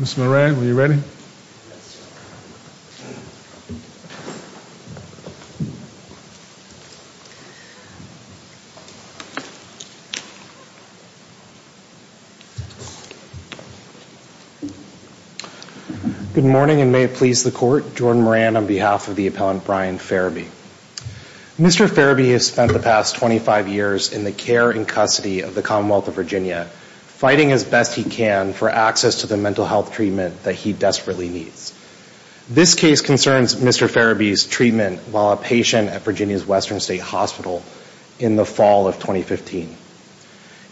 Mr. Moran, are you ready? Good morning and may it please the court, Jordan Moran on behalf of the appellant Brian Farabee. Mr. Farabee has spent the past 25 years in the care and Commonwealth of Virginia fighting as best he can for access to the mental health treatment that he desperately needs. This case concerns Mr. Farabee's treatment while a patient at Virginia's Western State Hospital in the fall of 2015.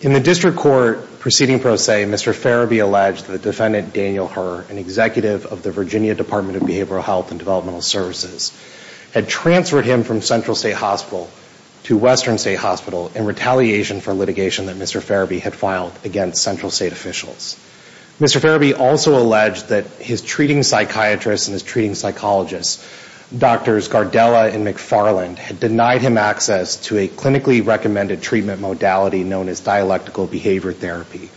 In the district court proceeding pro se, Mr. Farabee alleged the defendant Daniel Herr, an executive of the Virginia Department of Behavioral Health and Developmental Services, had transferred him from Central State Hospital to Western State Hospital in retaliation for litigation that Mr. Farabee had filed against Central State officials. Mr. Farabee also alleged that his treating psychiatrists and his treating psychologists, doctors Gardella and McFarland, had denied him access to a clinically recommended treatment modality known as dialectical behavior therapy.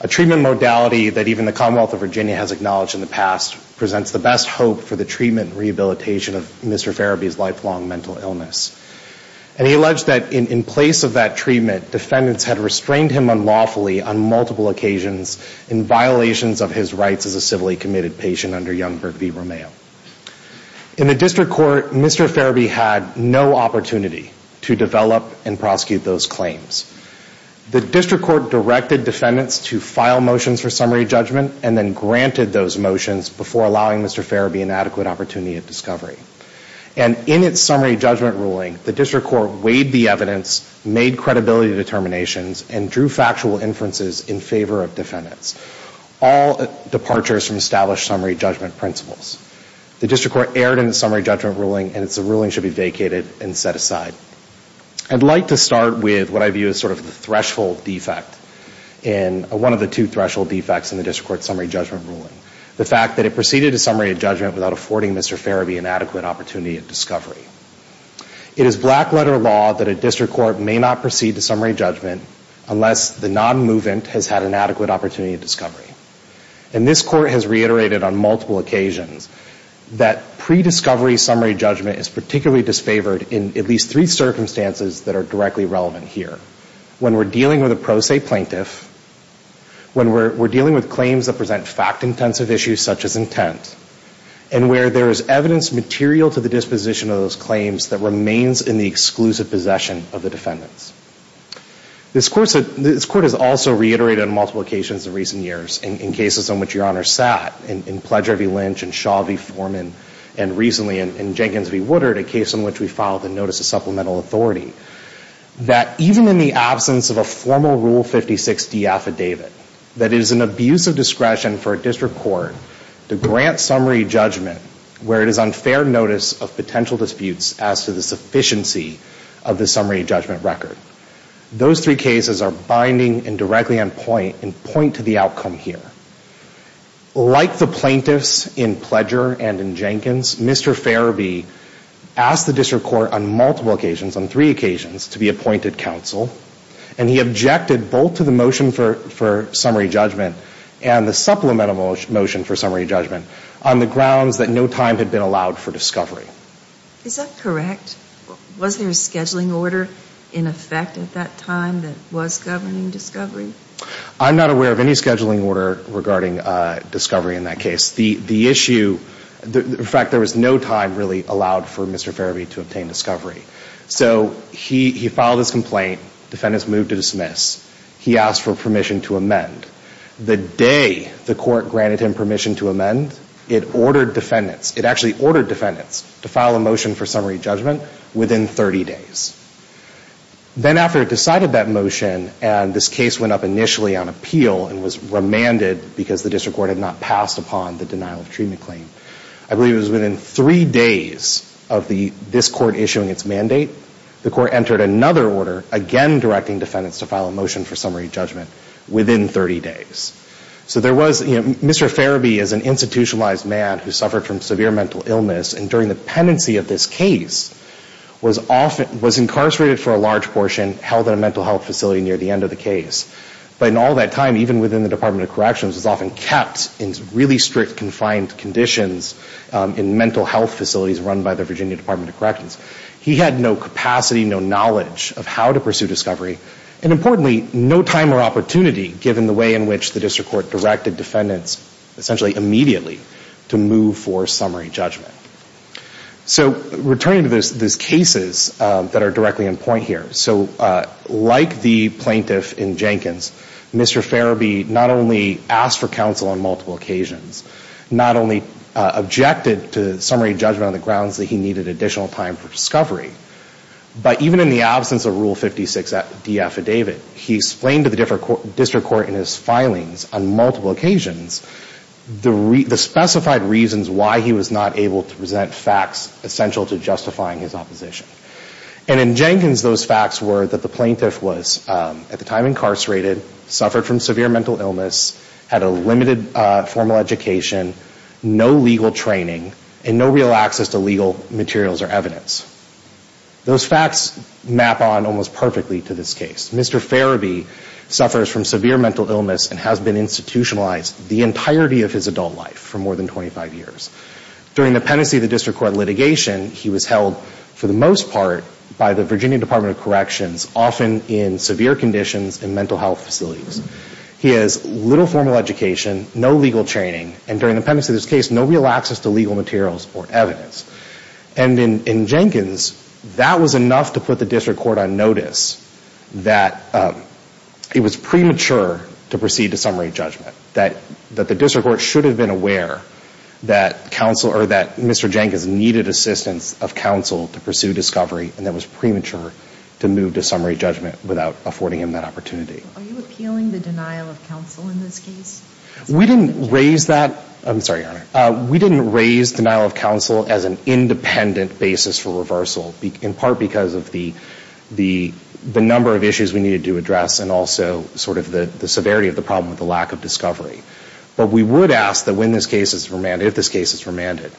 A treatment modality that even the Commonwealth of Virginia has acknowledged in the past presents the best hope for the treatment and rehabilitation of Mr. Farabee's lifelong mental illness. And he alleged that in place of that treatment, defendants had restrained him unlawfully on multiple occasions in violations of his rights as a civilly committed patient under Youngberg v. Romeo. In the district court, Mr. Farabee had no opportunity to develop and prosecute those claims. The district court directed defendants to file motions for summary judgment and then granted those motions before allowing Mr. Farabee an adequate opportunity of discovery. And in its summary judgment ruling, the district court weighed the evidence, made credibility determinations and drew factual inferences in favor of defendants. All departures from established summary judgment principles. The district court erred in the summary judgment ruling and its ruling should be vacated and set aside. I'd like to start with what I view as sort of the threshold defect in one of the two threshold defects in the district court summary judgment ruling. The fact that it proceeded to summary judgment without affording Mr. Farabee an adequate opportunity of discovery. It is black letter law that a district court may not proceed to summary judgment unless the non-movement has had an adequate opportunity of discovery. And this court has reiterated on multiple occasions that pre-discovery summary judgment is particularly disfavored in at least three circumstances that are directly relevant here. When we're dealing with a pro se plaintiff, when we're dealing with claims that present fact intensive issues such as intent, and where there is evidence material to the disposition of those claims that remains in the exclusive possession of the defendants. This court has also reiterated on multiple occasions in recent years, in cases on which Your Honor sat, in Pledger v. Lynch and Shaw v. Foreman and recently in Jenkins v. Woodard, a case on which we filed a notice of supplemental authority, that even in the absence of a formal Rule 56D affidavit, that it is an abuse of discretion for a district court to grant summary judgment where it is on fair notice of potential disputes as to the sufficiency of the summary judgment record. Those three cases are binding and directly on point and point to the outcome here. Like the plaintiffs in Pledger and in Jenkins, Mr. Farabee asked the district court on multiple occasions, on three occasions, to be appointed counsel. And he objected both to the motion for summary judgment and the supplemental motion for summary judgment on the grounds that no time had been allowed for discovery. Is that correct? Was there a scheduling order in effect at that time that was governing discovery? I'm not aware of any scheduling order regarding discovery in that case. The issue, in fact, there was no time really allowed for Mr. Farabee to obtain discovery. So he filed his complaint. Defendants moved to dismiss. He asked for permission to amend. The day the court granted him permission to amend, it ordered defendants, it actually ordered defendants, to file a motion for summary judgment within 30 days. Then after it decided that motion and this case went up initially on appeal and was remanded because the district court had not passed upon the denial of treatment claim, I believe it was within three days of this court issuing its mandate, the court entered another order, again directing defendants to file a motion for summary judgment within 30 days. So there was, you know, Mr. Farabee is an institutionalized man who suffered from severe mental illness and during the pendency of this case was often, was incarcerated for a large portion, held in a mental health facility near the end of the case. But in all that time, even within the Department of Corrections, was often kept in really strict, confined conditions in mental health facilities run by the Virginia Department of Corrections, he had no capacity, no knowledge of how to pursue discovery and importantly, no time or opportunity given the way in which the district court directed defendants essentially immediately to move for summary judgment. So returning to those cases that are directly in point here. So like the plaintiff in Jenkins, Mr. Farabee not only asked for counsel on multiple occasions, the specified reasons why he was not able to present facts essential to justifying his opposition. And in Jenkins, those facts were that the plaintiff was at the time incarcerated, suffered from severe mental illness, had a limited formal education, no legal training and no real access to legal materials or evidence. Those facts map on almost perfectly to this case. Mr. Farabee suffers from severe mental illness and has been institutionalized the entirety of his adult life for more than 25 years. During the pendency of the district court litigation, he was held for the most part by the Virginia Department of Corrections, often in severe conditions in mental health facilities. He has little formal education, no legal training and during the pendency he was held for the most part by the Virginia Department of Corrections. And in Jenkins, that was enough to put the district court on notice that it was premature to proceed to summary judgment. That the district court should have been aware that counsel or that Mr. Jenkins needed assistance of counsel to pursue discovery and that it was premature to move to summary judgment without affording him that opportunity. Are you appealing the denial of counsel in this case? We didn't raise that. I'm sorry, Your Honor. We didn't raise denial of counsel as an independent basis for reversal, in part because of the, the, the number of issues we needed to address and also sort of the severity of the problem with the lack of discovery. But we would ask that when this case is remanded, if this case is remanded,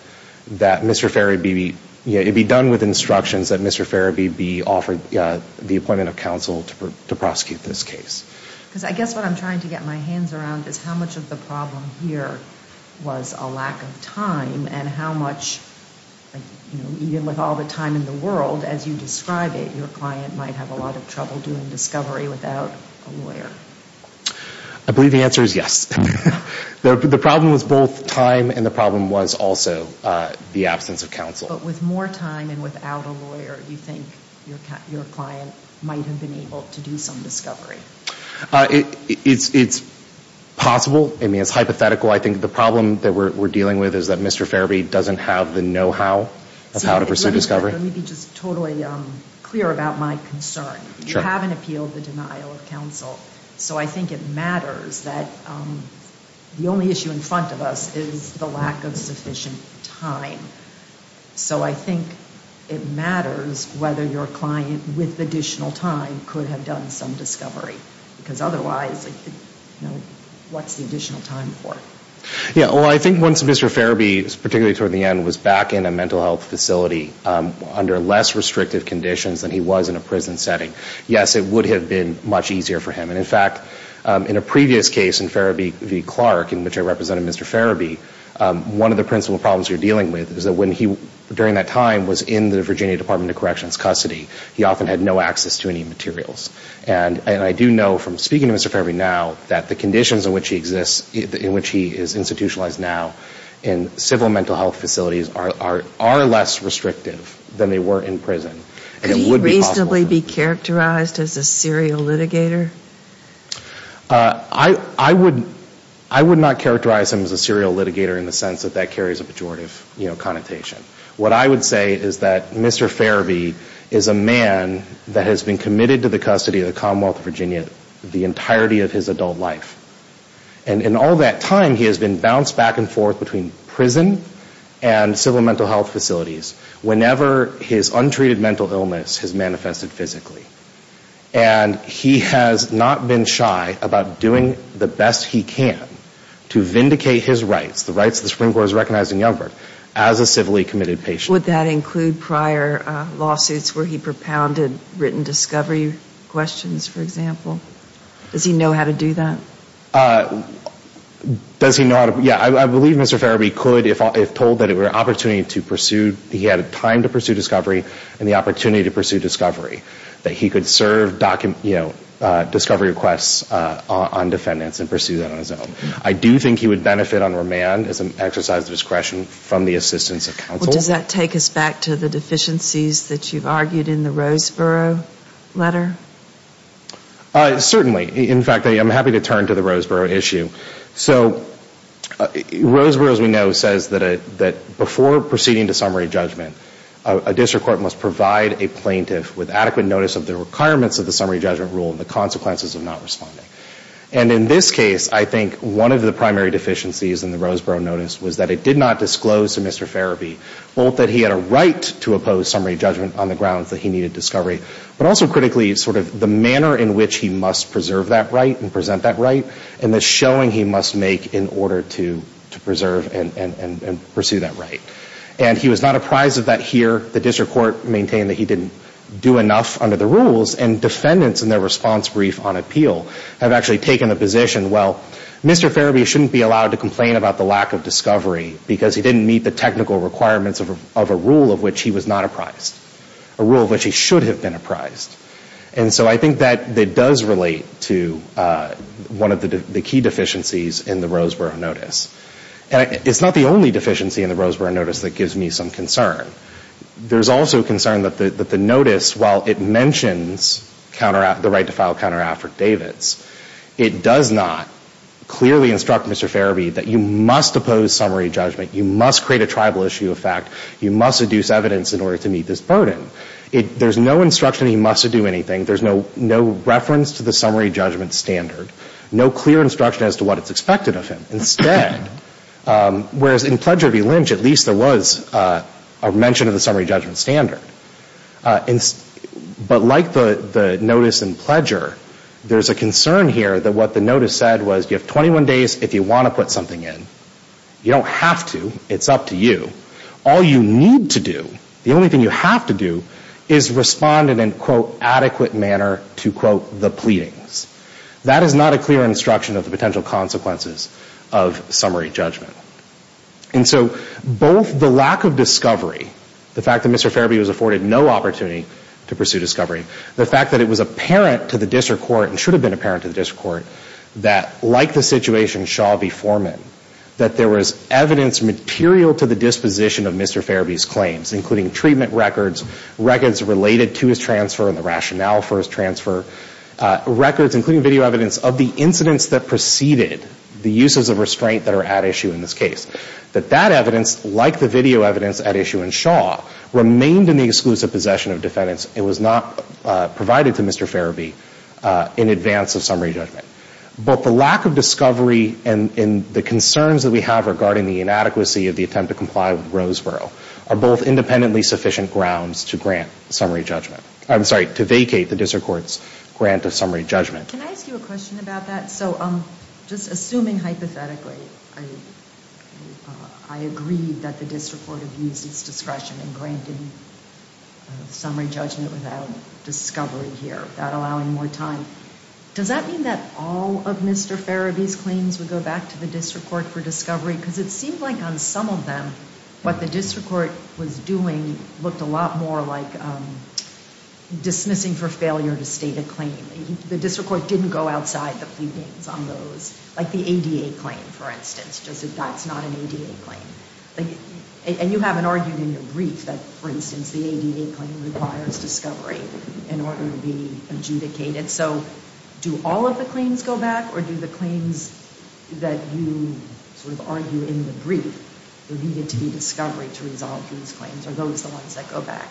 that Mr. Farabeebe, you know, it'd be done with instructions that Mr. Farabeebe offered the appointment of counsel to prosecute this case. Because I guess what I'm trying to get my hands around is how much of the problem here was a lack of time and how much, you know, even with all the time in the world, as you describe it, your client might have a lot of trouble doing discovery without a lawyer. I believe the answer is yes. The problem was both time and the problem was also the absence of counsel. But with more time and without a lawyer, do you think your client might have been able to do some discovery? It's possible. I mean, it's hypothetical. I think the problem that we're dealing with is that Mr. Farabeebe doesn't have the know-how of how to pursue discovery. Let me be just totally clear about my concern. You haven't appealed the denial of counsel. So I think it matters that the only issue in front of us is the lack of sufficient time. So I think it matters whether your client with additional time could have done some discovery because otherwise, you know, what's the additional time for? Yeah. Well, I think once Mr. Farabeebe, particularly toward the end, was back in a mental health facility under less restrictive conditions than he was in a prison setting, yes, it would have been much easier for him. And in fact, in a previous case in Farabeebe v. Clark, in which I represented Mr. Farabeebe, one of the principal problems you're dealing with is that when he, during that time, was in the Virginia Department of Corrections custody, he often had no access to any materials. And I do know from speaking to Mr. Farabeebe now that the conditions in which he exists, in which he is institutionalized now in civil mental health facilities are less restrictive than they were in prison. Could he reasonably be characterized as a serial litigator? I would not characterize him as a serial litigator in the sense that that carries a pejorative, you know, connotation. What I would say is that Mr. Farabeebe is a man that has been committed to the custody of the Commonwealth of Virginia the entirety of his adult life. And in all that time, he has been bounced back and forth between prison and civil mental health facilities whenever his untreated mental illness has manifested physically. And he has not been shy about doing the best he can to vindicate his rights, the rights the Supreme Court has recognized in Youngberg, as a civilly committed patient. Would that include prior lawsuits where he propounded written discovery questions, for example? Does he know how to do that? Does he know how to, yeah, I believe Mr. Farabeebe could if told that it was an opportunity to pursue, he had a time to pursue discovery and the opportunity to pursue discovery, that he could serve discovery requests on defendants and pursue that on his own. I do think he would benefit on remand as an exercise of discretion from the assistance of counsel. Does that take us back to the deficiencies that you've argued in the Roseboro letter? Certainly. In fact, I'm happy to turn to the Roseboro issue. So Roseboro, as we know, says that before proceeding to summary judgment, a district court must provide a plaintiff with adequate notice of the requirements of the summary judgment rule and the consequences of not responding. And in this case, I think one of the primary deficiencies in the Roseboro notice was that it did not disclose to Mr. Farabeebe both that he had a right to oppose summary judgment on the grounds that he needed discovery, but also critically sort of the manner in which he must preserve that right and present that right. And the showing he must make in order to preserve and pursue that right. And he was not apprised of that here. The district court maintained that he didn't do enough under the rules and defendants in their response brief on appeal have actually taken the position, well, Mr. Farabeebe shouldn't be allowed to complain about the lack of discovery because he didn't meet the technical requirements of a rule of which he was not apprised, a rule of which he should have been apprised. And so I think that that does relate to one of the key deficiencies in the Roseboro notice. And it's not the only deficiency in the Roseboro notice that gives me some concern. There's also a concern that the, that the notice, while it mentions the right to file a counteract for Davids, it does not clearly instruct Mr. Farabeebe that you must oppose summary judgment. You must create a tribal issue of fact, you must seduce evidence in order to meet this burden. There's no instruction that he must do anything. There's no, no reference to the summary judgment standard, no clear instruction as to what it's expected of him instead. Whereas in Pledger v. Lynch, at least there was a mention of the summary judgment standard. But like the notice in Pledger, there's a concern here that what the notice said was you have 21 days if you want to put something in, you don't have to, it's up to you. All you need to do, the only thing you have to do is respond in an quote adequate manner to quote the pleadings. That is not a clear instruction of the potential consequences of summary judgment. And so both the lack of discovery, the fact that Mr. Farabeebe was afforded no opportunity to pursue discovery, the fact that it was apparent to the district court and should have been apparent to the district court that like the situation Shaw v. Foreman, that there was evidence material to the disposition of Mr. Farabeebe's claims, including treatment records, records related to his transfer and the rationale for his transfer, records including video evidence of the incidents that preceded the uses of restraint that are at issue in this case, that that evidence like the video evidence at issue in Shaw remained in the exclusive possession of defendants. It was not provided to Mr. Farabee in advance of summary judgment. But the lack of discovery and the concerns that we have regarding the inadequacy of the attempt to comply with Roseboro are both independently sufficient grounds to grant summary judgment. I'm sorry, to vacate the district court's grant of summary judgment. Can I ask you a question about that? So, um, just assuming hypothetically, I agree that the district court abused its discretion in granting summary judgment without discovery here, without allowing more time. Does that mean that all of Mr. Farabee's claims would go back to the district court for discovery? Cause it seemed like on some of them, what the district court was doing looked a lot more like, um, dismissing for failure to state a claim. The district court didn't go outside the few games on those like the ADA claim, for instance, just that that's not an ADA claim. And you haven't argued in your brief that for instance, the ADA claim requires discovery in order to be adjudicated. So do all of the claims go back or do the claims that you sort of argue in the there needed to be discovery to resolve these claims or those are the ones that go back?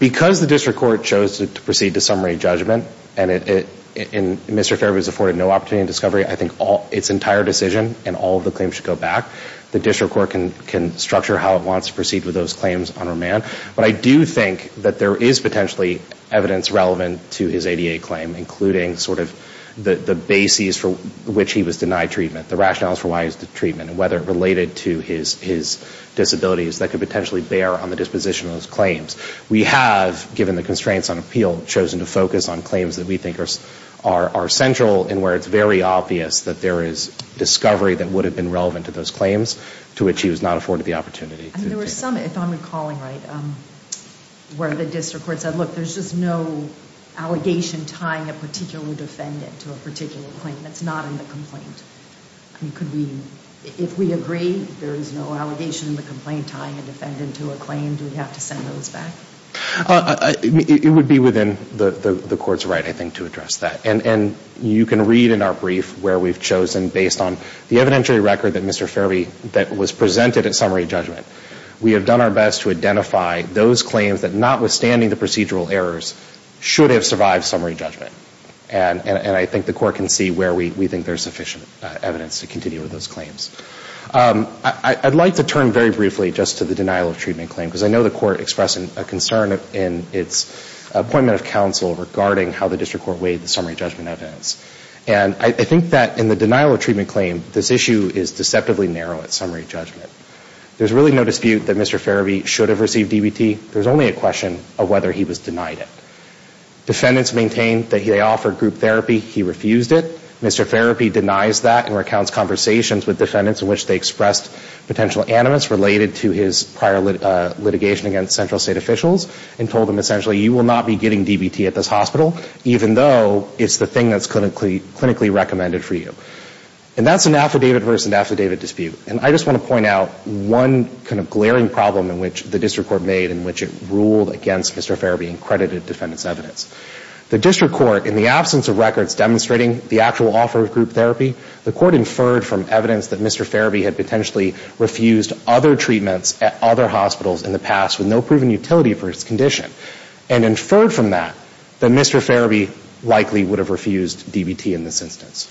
Because the district court chose to proceed to summary judgment and it, it, in Mr. Farabee's afforded no opportunity in discovery, I think all its entire decision and all of the claims should go back. The district court can, can structure how it wants to proceed with those claims on remand. But I do think that there is potentially evidence relevant to his ADA claim, including sort of the, the bases for which he was denied treatment, the rationales for why he was denied treatment and whether it related to his, his disabilities that could potentially bear on the disposition of those claims. We have given the constraints on appeal chosen to focus on claims that we think are, are, are central in where it's very obvious that there is discovery that would have been relevant to those claims to which he was not afforded the opportunity. I mean, there were some, if I'm recalling right, where the district court said, look, there's just no allegation tying a particular defendant to a particular claim. That's not in the complaint. I mean, could we, if we agree there is no allegation in the complaint tying a defendant to a claim, do we have to send those back? It would be within the court's right, I think, to address that. And you can read in our brief where we've chosen based on the evidentiary record that Mr. Farabee, that was presented at summary judgment, we have done our best to identify those claims that notwithstanding the procedural errors should have survived summary judgment. And I think the court can see where we think there's sufficient evidence to continue with those claims. I'd like to turn very briefly just to the denial of treatment claim, because I know the court expressed a concern in its appointment of counsel regarding how the district court weighed the summary judgment evidence. And I think that in the denial of treatment claim, this issue is deceptively narrow at summary judgment. There's really no dispute that Mr. Farabee should have received DBT. There's only a question of whether he was denied it. Defendants maintain that they offered group therapy. He refused it. Mr. Farabee denies that and recounts conversations with defendants in which they expressed potential animus related to his prior litigation against central state officials and told them essentially, you will not be getting DBT at this hospital, even though it's the thing that's clinically recommended for you. And that's an affidavit versus affidavit dispute. And I just want to point out one kind of glaring problem in which the district court made in which it ruled against Mr. Farabee and credited defendants' evidence. The district court, in the absence of records demonstrating the actual offer of group therapy, the court inferred from evidence that Mr. Farabee had potentially refused other treatments at other hospitals in the past with no proven utility for his condition and inferred from that that Mr. Farabee likely would have refused DBT in this instance.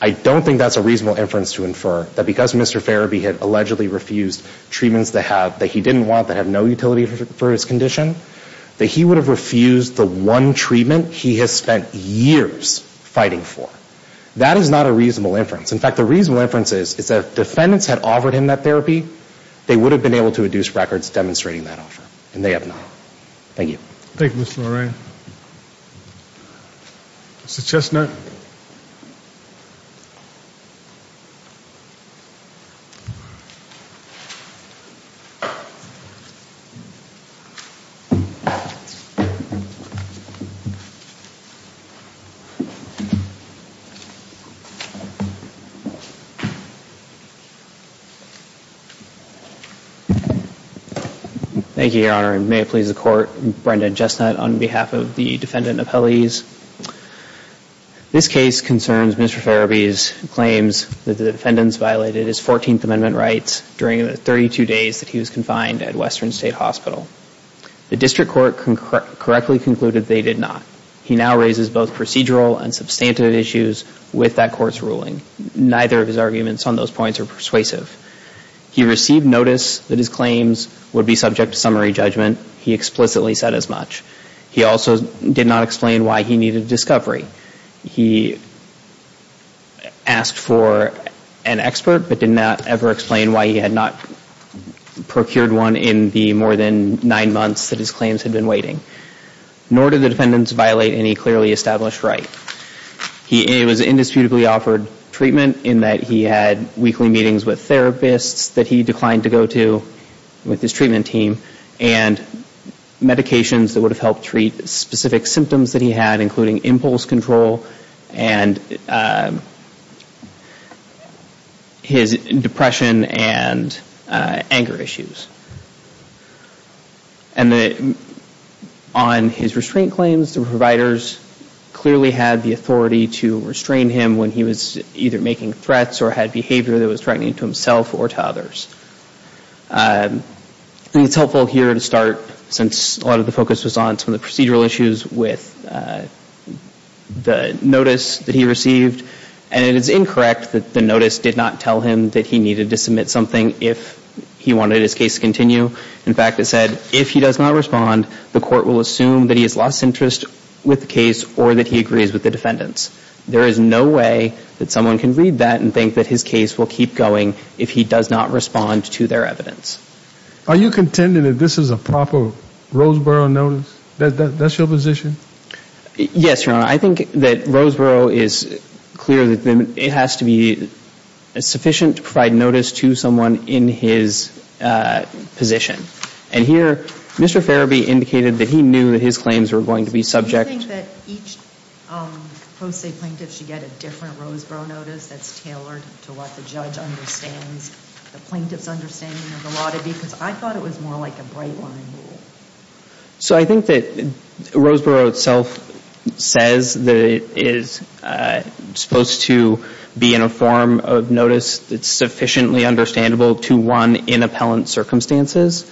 I don't think that's a reasonable inference to infer that because Mr. Farabee had allegedly refused treatments that have, that he didn't want that have no utility for his condition, that he would have refused the one treatment he has spent years fighting for. That is not a reasonable inference. In fact, the reasonable inference is is that defendants had offered him that therapy. They would have been able to induce records demonstrating that offer and they have not. Thank you. Thank you, Mr. Lorraine. Mr. Chestnut. Thank you, Your Honor. May it please the court. Brendan Chestnut on behalf of the defendant appellees. This case concerns Mr. Farabee's claims that the defendants violated his 14th Amendment rights during the 32 days that he was confined at Western State Hospital. The district court correctly concluded they did not. He now raises both procedural and substantive issues with that court's ruling. Neither of his arguments on those points are persuasive. He received notice that his claims would be subject to summary judgment. He explicitly said as much. He also did not explain why he needed a discovery. He asked for an expert, but did not ever explain why he had not procured one in the more than nine months that his claims had been waiting. Nor did the defendants violate any clearly established right. He was indisputably offered treatment in that he had weekly meetings with therapists that he declined to go to with his treatment team and medications that would have helped treat specific symptoms that he had, including impulse control and his depression and anger issues. And on his restraint claims, the providers clearly had the authority to restrain him when he was either making threats or had behavior that was threatening to himself or to others. And it's helpful here to start, since a lot of the focus was on some of the procedural issues with the notice that he received. And it is incorrect that the notice did not tell him that he needed to submit something if he wanted his case to continue. In fact, it said, if he does not respond, the court will assume that he has lost interest with the case or that he agrees with the defendants. There is no way that someone can read that and think that his case will keep going if he does not respond to their evidence. Are you contending that this is a proper Roseboro notice? That's your position? Yes, Your Honor. I think that Roseboro is clear that it has to be sufficient to provide notice to someone in his position. And here Mr. Ferebee indicated that he knew that his claims were going to be subject. Do you think that each post-state plaintiff should get a different Roseboro notice that's tailored to what the judge understands, the plaintiff's understanding of the law to be? Because I thought it was more like a bright line rule. So I think that Roseboro itself says that it is supposed to be in a form of notice that's sufficiently understandable to one in appellant circumstances.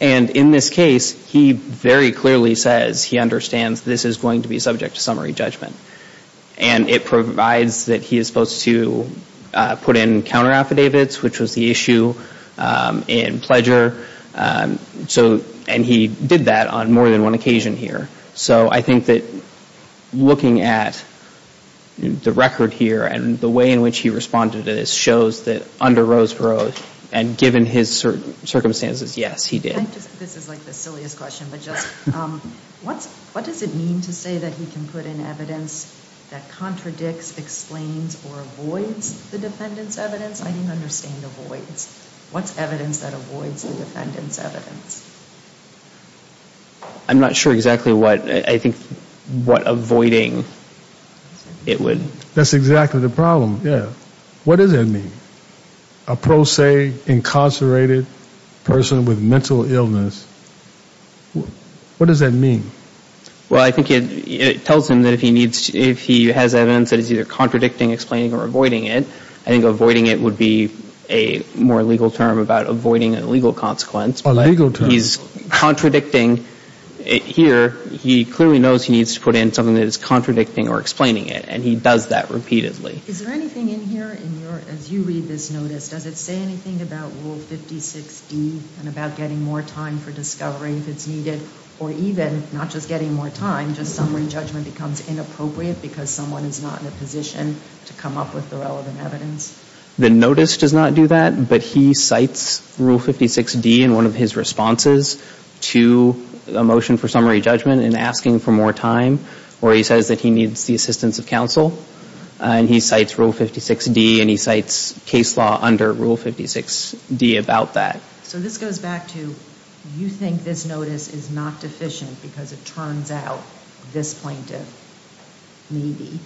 And in this case, he very clearly says he understands this is going to be subject to summary judgment. And it provides that he is supposed to put in counter affidavits, which was the issue in Pledger. So, and he did that on more than one occasion here. So I think that looking at the record here and the way in which he responded to this shows that under Roseboro and given his circumstances, yes, he did. This is like the silliest question, but just what does it mean to say that he can put in evidence that contradicts, explains or avoids the defendant's evidence? I didn't understand avoids. What's evidence that avoids the defendant's evidence? I'm not sure exactly what I think, what avoiding it would. That's exactly the problem. Yeah. What does that mean? A pro se incarcerated person with mental illness. What does that mean? Well, I think it tells him that if he needs, if he has evidence that is either contradicting, explaining or avoiding it, I think avoiding it would be a more legal term about avoiding an illegal consequence. He's contradicting here. He clearly knows he needs to put in something that is contradicting or explaining it. And he does that repeatedly. Is there anything in here in your, as you read this notice, does it say anything about rule 56 D and about getting more time for discovery if it's needed or even not just getting more time, just summary judgment becomes inappropriate because someone is not in a position to come up with the relevant evidence. The notice does not do that, but he cites rule 56 D in one of his responses to a motion for summary judgment and asking for more time, or he says that he needs the assistance of counsel and he cites rule 56 D and he cites case law under rule 56 D about that. So this goes back to, you think this notice is not deficient because it turns out this plaintiff maybe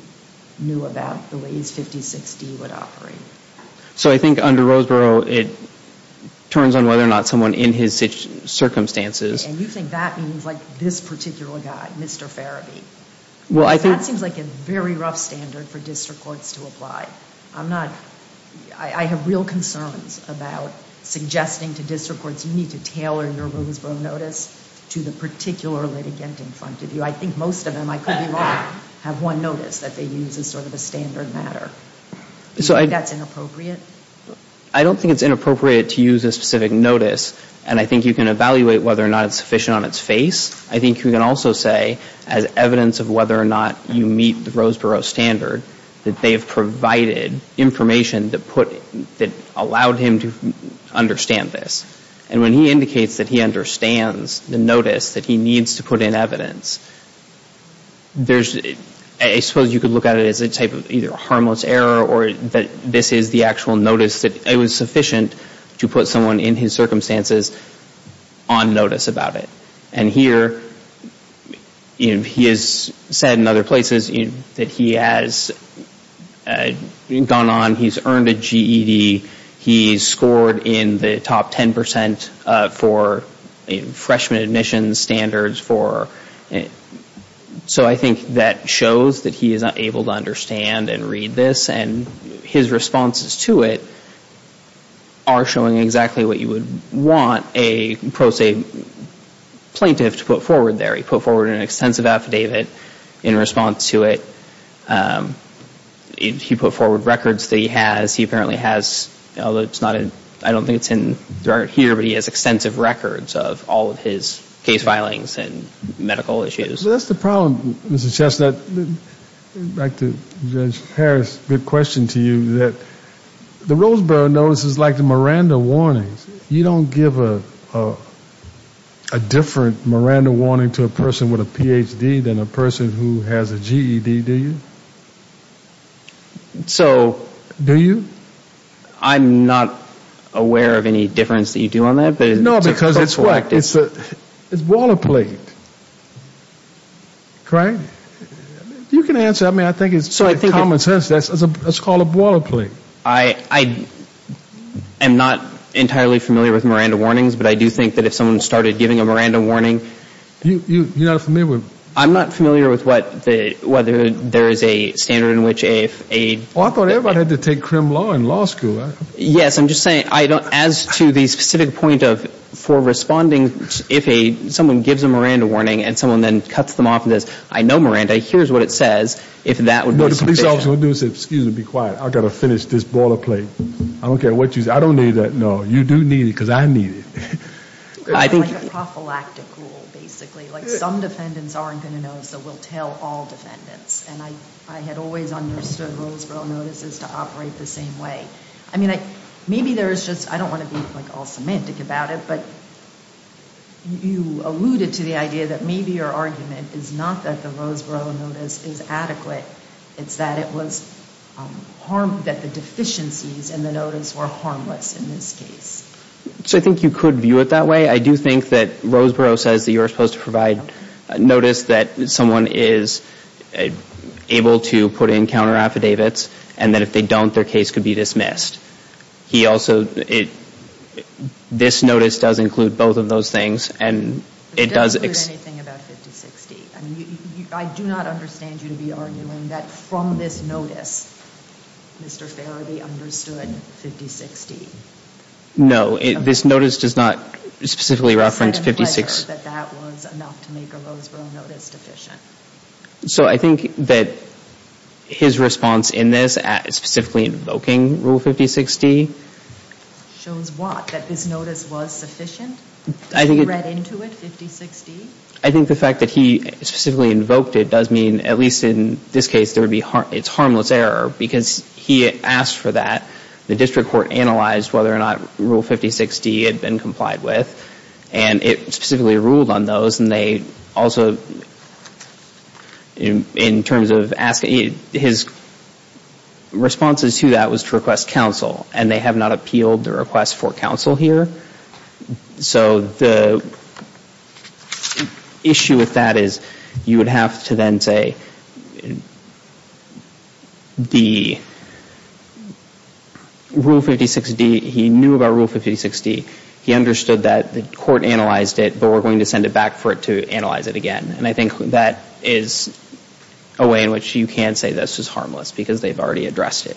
knew about the ways 56 D would operate. So I think under Roseboro, it turns on whether or not someone in his circumstances. And you think that means like this particular guy, Mr. Farabee. Well, that seems like a very rough standard for district courts to apply. I'm not, I have real concerns about suggesting to district courts, you need to tailor your Roseboro notice to the particular litigant in front of you. I think most of them, I could be wrong, have one notice that they use as sort of a standard matter. So I think that's inappropriate. I don't think it's inappropriate to use a specific notice. And I think you can evaluate whether or not it's sufficient on its face. I think you can also say as evidence of whether or not you meet the Roseboro standard, that they've provided information that put that allowed him to understand this. And when he indicates that he understands the notice that he needs to put in as evidence, there's, I suppose you could look at it as a type of either harmless error or that this is the actual notice that it was sufficient to put someone in his circumstances on notice about it. And here he has said in other places that he has gone on, he's earned a GED, he's scored in the top 10% for freshman admissions standards, for, so I think that shows that he is able to understand and read this and his responses to it are showing exactly what you would want a pro se plaintiff to put forward there. He put forward an extensive affidavit in response to it. He put forward records that he has. He apparently has, although it's not, I don't think it's in the record here, but he has extensive records of all of his case filings and medical issues. So that's the problem, Mr. Chestnut, back to Judge Harris, good question to you that the Roseboro notice is like the Miranda warnings. You don't give a, a different Miranda warning to a person with a PhD than a person who has a GED, do you? So do you? I'm not aware of any difference that you do on that, but it's. No, because it's what, it's the, it's boilerplate. Craig, you can answer. I mean, I think it's common sense. That's what's called a boilerplate. I am not entirely familiar with Miranda warnings, but I do think that if someone started giving a Miranda warning. You, you, you're not familiar with. I'm not familiar with what the, whether there is a standard in which a, if a. Oh, I thought everybody had to take crim law in law school. Yes. I'm just saying, I don't, as to the specific point of for responding, if a someone gives a Miranda warning and someone then cuts them off and says, I know Miranda, here's what it says. If that would be the police officer would do is say, excuse me, be quiet. I've got to finish this boilerplate. I don't care what you say. I don't need that. No, you do need it. Cause I need it. I think. Basically like some defendants aren't going to know. So we'll tell all defendants. And I, I had always understood Roseboro notices to operate the same way. I mean, I, maybe there's just, I don't want to be like all semantic about it, but you alluded to the idea that maybe your argument is not that the Roseboro notice is adequate. It's that it was harm, that the deficiencies in the notice were harmless in this case. So I think you could view it that way. I do think that Roseboro says that you're supposed to provide notice that someone is able to put in counter affidavits and that if they don't, their case could be dismissed. He also, this notice does include both of those things and it does. I do not understand you to be arguing that from this notice, Mr. Farabee understood 5060. No, this notice does not specifically reference 56. That that was enough to make a Roseboro notice deficient. So I think that his response in this at specifically invoking rule 5060. Shows what? That this notice was sufficient? I think he read into it, 5060. I think the fact that he specifically invoked it does mean at least in this case, there would be, it's harmless error because he asked for that. The district court analyzed whether or not rule 5060 had been complied with and it specifically ruled on those. And they also, in terms of asking his responses to that was to request counsel and they have not appealed the request for counsel here. So the issue with that is you would have to then say, the rule 5060, he knew about rule 5060. He understood that the court analyzed it, but we're going to send it back for it to analyze it again. And I think that is a way in which you can say this is harmless because they've already addressed it.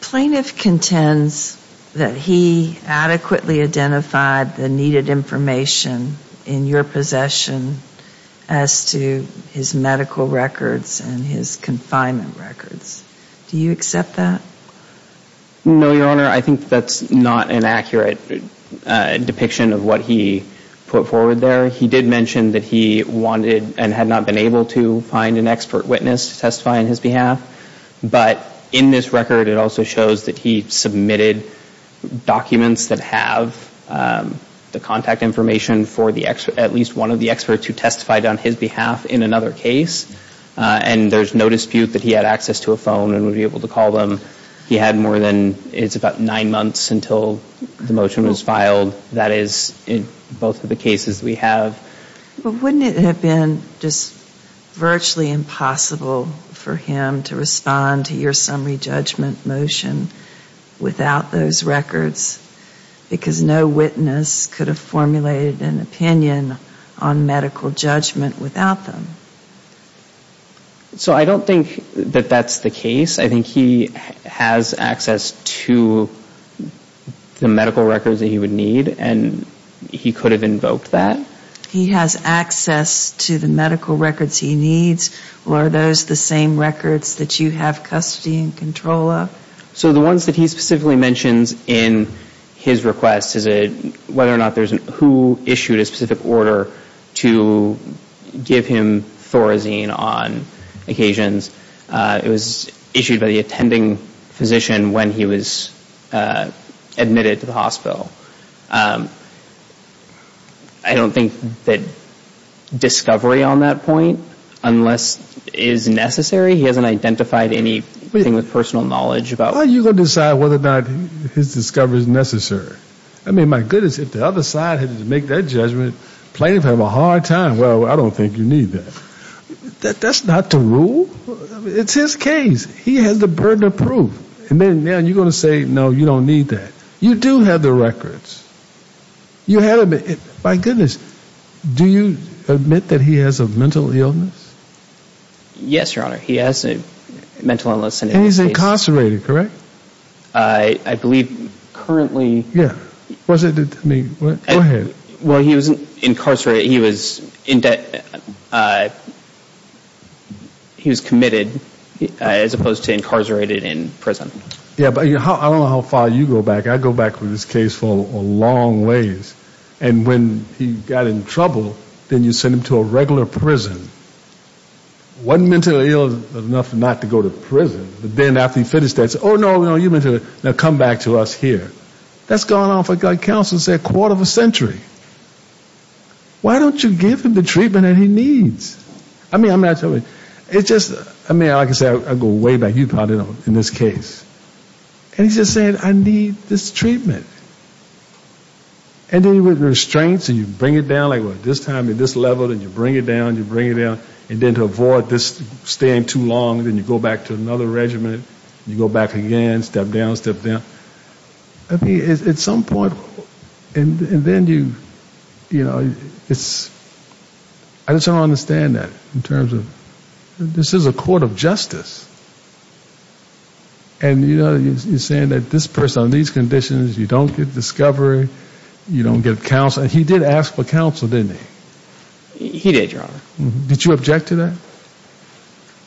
Plaintiff contends that he adequately identified the needed information in your possession as to his medical records and his confinement records. Do you accept that? No, Your Honor. I think that's not an accurate depiction of what he put forward there. He did mention that he wanted and had not been able to find an expert witness to testify on his behalf. But in this record, it also shows that he submitted documents that have the contact information for the expert, at least one of the experts who testified on his behalf in another case. And there's no dispute that he had access to a phone and would be able to call them. He had more than, it's about nine months until the motion was filed. That is in both of the cases we have. But wouldn't it have been just virtually impossible for him to respond to your summary judgment motion without those records? Because no witness could have formulated an opinion on medical judgment without them. So I don't think that that's the case. I think he has access to the medical records that he would need. And he could have invoked that. He has access to the medical records he needs. Are those the same records that you have custody and control of? So the ones that he specifically mentions in his request is whether or not there's who issued a specific order to give him Thorazine on occasions. It was issued by the attending physician when he was admitted to the hospital. I don't think that discovery on that point unless is necessary. He hasn't identified anything with personal knowledge about it. Why are you going to decide whether or not his discovery is necessary? I mean, my goodness, if the other side had to make that judgment, plaintiff have a hard time. Well, I don't think you need that. That's not the rule. It's his case. He has the burden of proof and then you're going to say, no, you don't need that. You do have the records. You have it. My goodness. Do you admit that he has a mental illness? Yes, your honor. He has a mental illness and he's incarcerated, correct? I believe currently. Yeah. Was it? I mean, go ahead. Well, he was incarcerated. He was in debt. He was committed as opposed to incarcerated in prison. Yeah, but I don't know how far you go back. I go back with this case for a long ways. And when he got in trouble, then you send him to a regular prison. One mentally ill enough not to go to prison. But then after he finished that, oh, no, no, you meant to come back to us here. That's gone off. I got counsel said quarter of a century. Why don't you give him the treatment that he needs? I mean, I'm not sure. It's just I mean, I can say I go way back. You probably don't in this case. And he's just saying, I need this treatment. And then with restraints and you bring it down like this time at this level, and you bring it down, you bring it down. And then to avoid this staying too long, then you go back to another regiment. You go back again, step down, step down. I mean, at some point. And then you, you know, it's. I just don't understand that in terms of this is a court of justice. And, you know, you're saying that this person on these conditions, you don't get discovery, you don't get counsel. And he did ask for counsel, didn't he? He did. Did you object to that?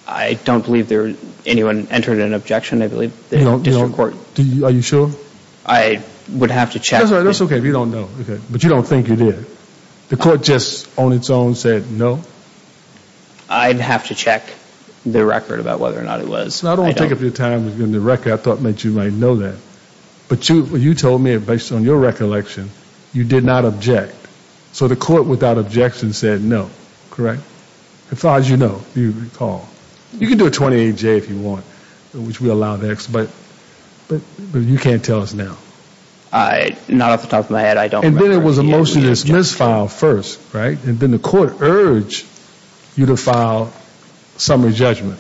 I don't believe there anyone entered an objection. I believe they don't do court. Are you sure? I would have to check. That's OK if you don't know. But you don't think you did. The court just on its own said no. I'd have to check the record about whether or not it was. So I don't take up your time with the record. I thought that you might know that. But you told me it based on your recollection. You did not object. So the court, without objection, said no. Correct. As far as you know, you recall you can do a 28 J if you want, which we allow next, but but you can't tell us now. I not off the top of my head. I don't think it was a motion to dismiss file first. Right. And then the court urged you to file summary judgment.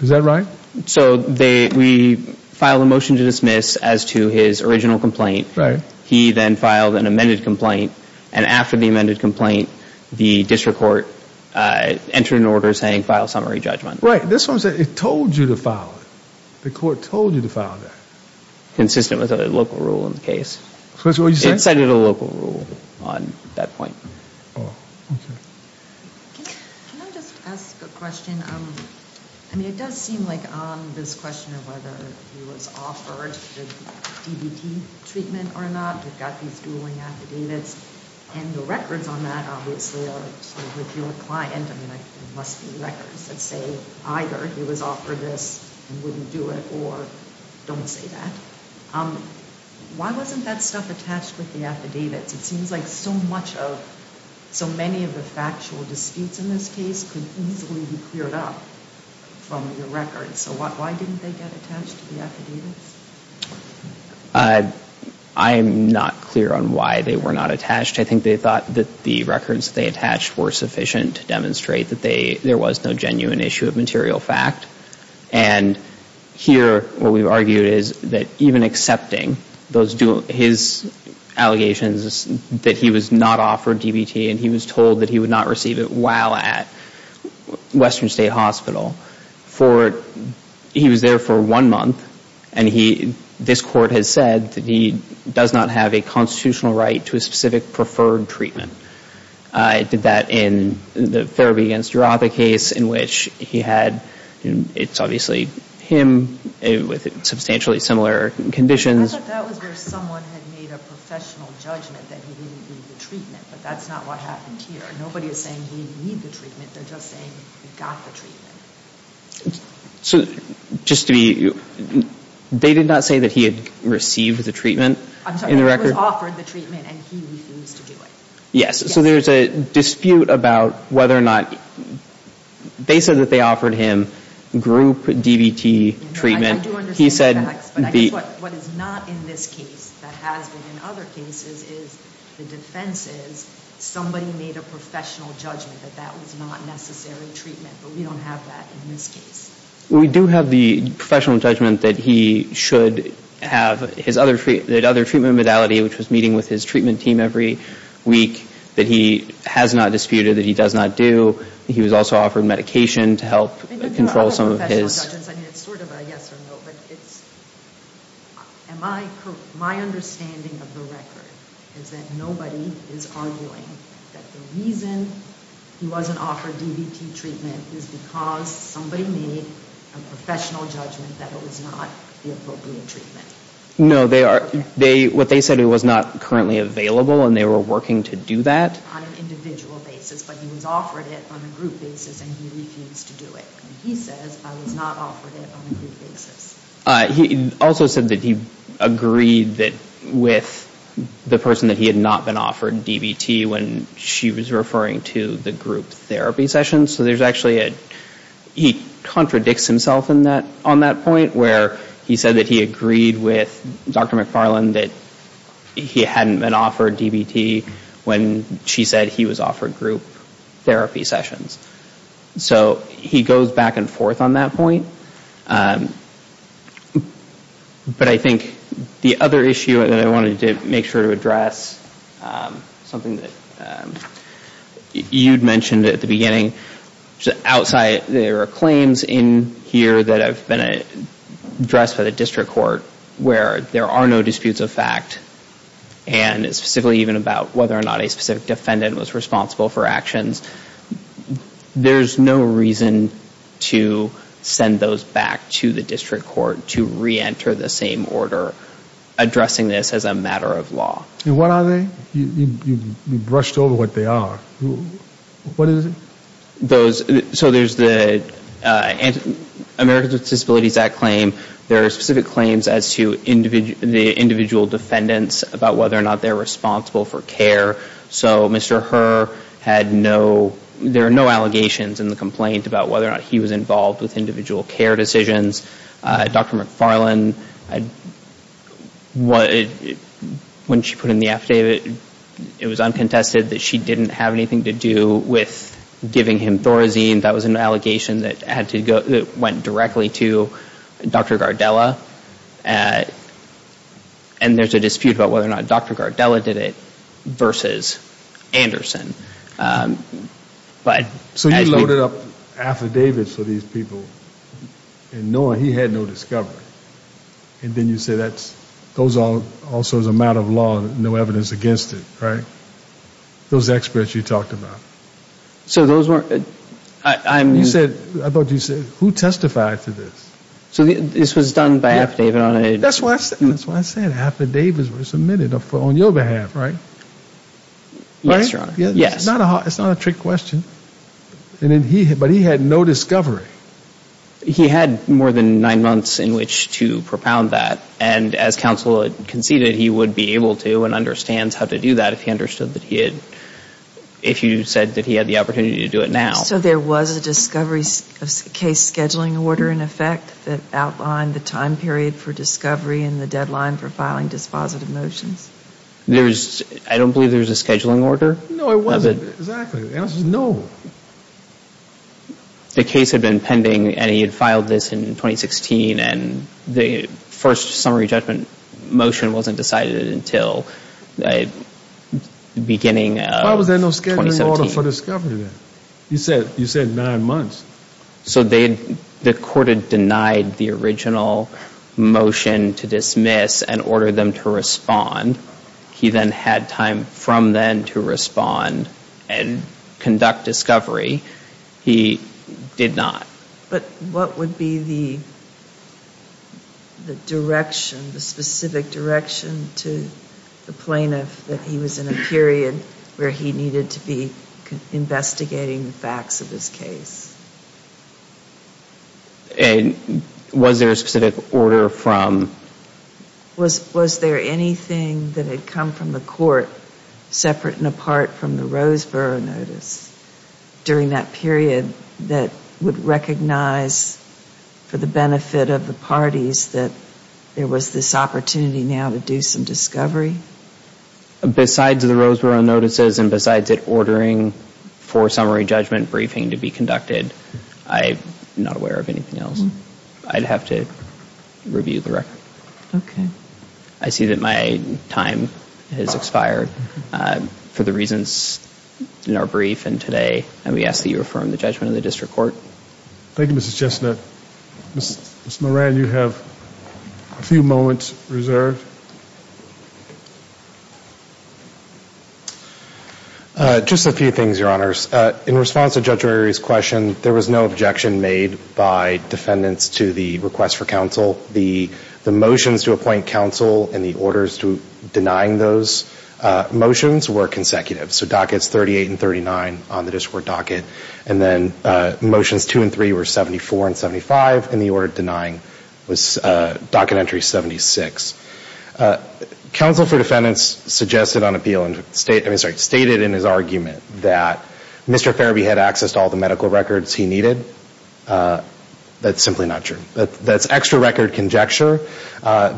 Is that right? So they we filed a motion to dismiss as to his original complaint. Right. He then filed an amended complaint. And after the amended complaint, the district court entered an order saying file summary judgment. Right. This one said it told you to file it. The court told you to file that. Consistent with a local rule in the case. So that's what you said. It said it a local rule on that point. Oh, OK. Can I just ask a question? I mean, it does seem like this question of whether he was offered DDT treatment or not, you've got these dueling affidavits and the records on that obviously are with your client. I mean, there must be records that say either he was offered this and wouldn't do it or don't say that. Why wasn't that stuff attached with the affidavits? It seems like so much of so many of the factual disputes in this case can easily be cleared up from your records. So why didn't they get attached to the affidavits? I'm not clear on why they were not attached. I think they thought that the records they attached were sufficient to demonstrate that there was no genuine issue of material fact. And here, what we've argued is that even accepting those his allegations that he was not offered DDT and he was told that he would not receive it while at Western State Hospital for he was there for one month. And he this court has said that he does not have a constitutional right to a specific preferred treatment. I did that in the therapy against your other case in which he had and it's obviously him with substantially similar conditions. I thought that was where someone had made a professional judgment that he didn't need the treatment, but that's not what happened here. Nobody is saying he need the treatment. They're just saying he got the treatment. So just to be they did not say that he had received the treatment. I'm sorry, he was offered the treatment and he refused to do it. Yes. So there's a dispute about whether or not they said that they offered him group DDT treatment. He said what is not in this case that has been in other cases is the defense is somebody made a professional judgment that that was not necessary treatment. But we don't have that in this case. We do have the professional judgment that he should have his other that other treatment modality, which was meeting with his treatment team every week, that he has not disputed that he does not do. He was also offered medication to help control some of his. I mean, it's sort of a yes or no, but it's. Am I my understanding of the record is that nobody is arguing that the reason he wasn't offered DDT treatment is because somebody made a professional judgment that it was not the appropriate treatment. No, they are they what they said it was not currently available and they were working to do that on an individual basis. But he was offered it on a group basis and he refused to do it. He says I was not offered it on a group basis. He also said that he agreed that with the person that he had not been offered DDT when she was referring to the group therapy session. So there's actually a he contradicts himself in that on that point where he said that he agreed with Dr. McFarland that he hadn't been offered DDT when she said he was offered group therapy sessions. So he goes back and forth on that point. But I think the other issue that I wanted to make sure to address something that you'd mentioned at the beginning outside there are claims in here that have been addressed by the district court where there are no disputes of fact, and it's specifically even about whether or not a specific defendant was responsible for actions. There's no reason to send those back to the district court to reenter the same order addressing this as a matter of law. And what are they? You brushed over what they are. What is it? Those. So there's the Americans with Disabilities Act claim. There are specific claims as to the individual defendants about whether or not they're responsible for care. So Mr. Herr had no there are no allegations in the complaint about whether or not he was involved with individual care decisions. Dr. McFarland, I what when she put in the affidavit, it was uncontested that she didn't have anything to do with giving him Thorazine. That was an allegation that had to go that went directly to Dr. Gardella at. And there's a dispute about whether or not Dr. Gardella did it versus Anderson. But so you loaded up affidavits for these people and no, he had no discovery. And then you say that's those are also as a matter of law. No evidence against it. Right. Those experts you talked about. So those were I said, I thought you said who testified to this? So this was done by affidavit on it. That's what I said. Affidavits were submitted on your behalf, right? Yes, Your Honor. Yes. Not a it's not a trick question. And then he but he had no discovery. He had more than nine months in which to propound that. And as counsel conceded, he would be able to and understands how to do that. If he understood that he had. If you said that he had the opportunity to do it now. So there was a discovery of case scheduling order in effect that outlined the time period for discovery and the deadline for filing dispositive motions. There's I don't believe there's a scheduling order. No, it wasn't. Exactly. No. The case had been pending and he had filed this in 2016 and the first summary judgment motion wasn't decided until the beginning. Why was there no scheduling order for discovery? You said you said nine months. So they the court had denied the original motion to dismiss and order them to respond. He then had time from then to respond and conduct discovery. He did not. But what would be the. The direction, the specific direction to the plaintiff that he was in a period where he needed to be investigating the facts of this case? And was there a specific order from. Was was there anything that had come from the court separate and apart from the Roseboro notice during that period that would recognize for the benefit of the parties that there was this opportunity now to do some discovery? Besides the Roseboro notices and besides it, ordering for summary judgment briefing to be conducted. I'm not aware of anything else I'd have to review the record. OK, I see that my time has expired for the reasons in our brief and today. And we ask that you affirm the judgment of the district court. Thank you, Mr. Chestnut. Mr. Moran, you have a few moments reserved. Just a few things, your honors. In response to Judge Rory's question, there was no objection made by defendants to the request for counsel, the the motions to appoint counsel and the orders to denying those motions were consecutive. So dockets thirty eight and thirty nine on the district docket. And then motions two and three were seventy four and seventy five. And the order denying was docket entry. Seventy six counsel for defendants suggested on appeal stated in his argument that Mr. Fairby had access to all the medical records he needed. That's simply not true. That's extra record conjecture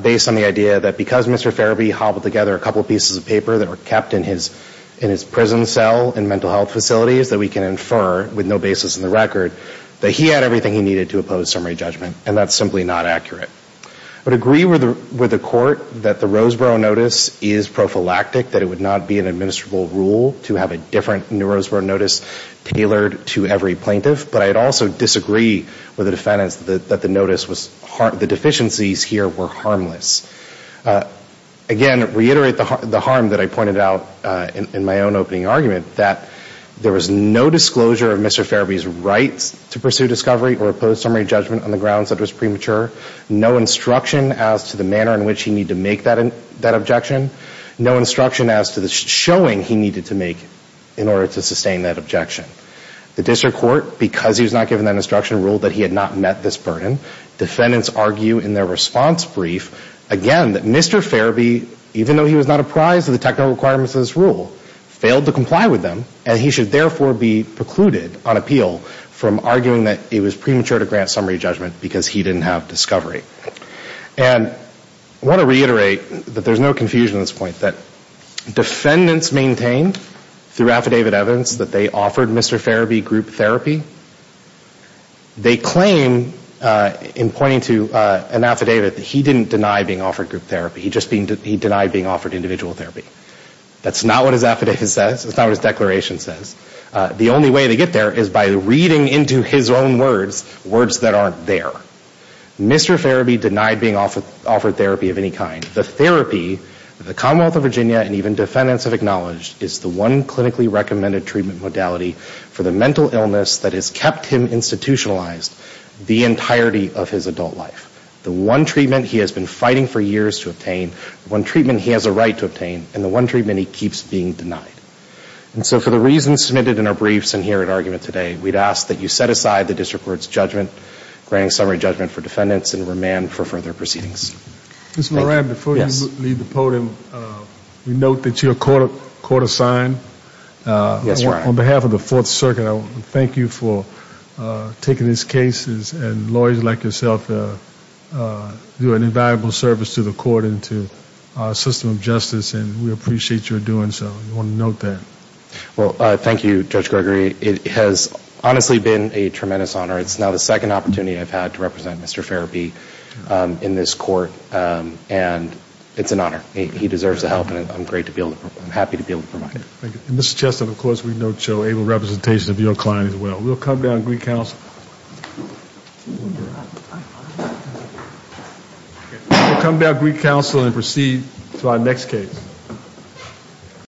based on the idea that because Mr. Fairby hobbled together a couple of pieces of paper that were kept in his in his prison cell and mental health facilities that we can infer with no basis in the record that he had everything he needed to oppose summary judgment. And that's simply not accurate. I would agree with the court that the Roseboro notice is prophylactic, that it would not be an administrable rule to have a different new Roseboro notice tailored to every plaintiff. But I'd also disagree with the defendants that the notice was hard. The deficiencies here were harmless. Again, reiterate the harm that I pointed out in my own opening argument that there was no disclosure of Mr. Fairby's rights to pursue discovery or oppose summary judgment on the grounds that was premature. No instruction as to the manner in which he need to make that that objection. No instruction as to the showing he needed to make in order to sustain that objection. The district court, because he was not given that instruction, ruled that he had not met this burden. Defendants argue in their response brief again that Mr. Fairby, even though he was not apprised of the technical requirements of this rule, failed to comply with them. And he should therefore be precluded on appeal from arguing that it was premature to grant summary judgment because he didn't have discovery. And I want to reiterate that there's no confusion at this point, that defendants maintained through affidavit evidence that they offered Mr. Fairby group therapy. They claim, in pointing to an affidavit, that he didn't deny being offered group therapy. He just denied being offered individual therapy. That's not what his affidavit says. That's not what his declaration says. The only way to get there is by reading into his own words, words that aren't there. Mr. Fairby denied being offered therapy of any kind. The therapy that the Commonwealth of Virginia and even defendants have acknowledged is the one clinically recommended treatment modality for the mental illness that has kept him institutionalized the entirety of his adult life. The one treatment he has been fighting for years to obtain, the one treatment he has a right to obtain, and the one treatment he keeps being denied. And so for the reasons submitted in our briefs and here at Argument Today, we'd ask that you set aside the district court's judgment, grant a summary judgment for defendants, and remand for further proceedings. Ms. Moran, before you leave the podium, we note that you're court-assigned. Yes, Your Honor. On behalf of the Fourth Circuit, I want to thank you for taking this case. And lawyers like yourself do an invaluable service to the court and to our system of justice, and we appreciate your doing so. We want to note that. Well, thank you, Judge Gregory. It has honestly been a tremendous honor. It's now the second opportunity I've had to represent Mr. Farabee in this court, and it's an honor. He deserves the help, and I'm happy to be able to provide it. Thank you. And, Mr. Cheston, of course, we note your able representation of your client as well. We'll come down to Greek Council and proceed to our next case.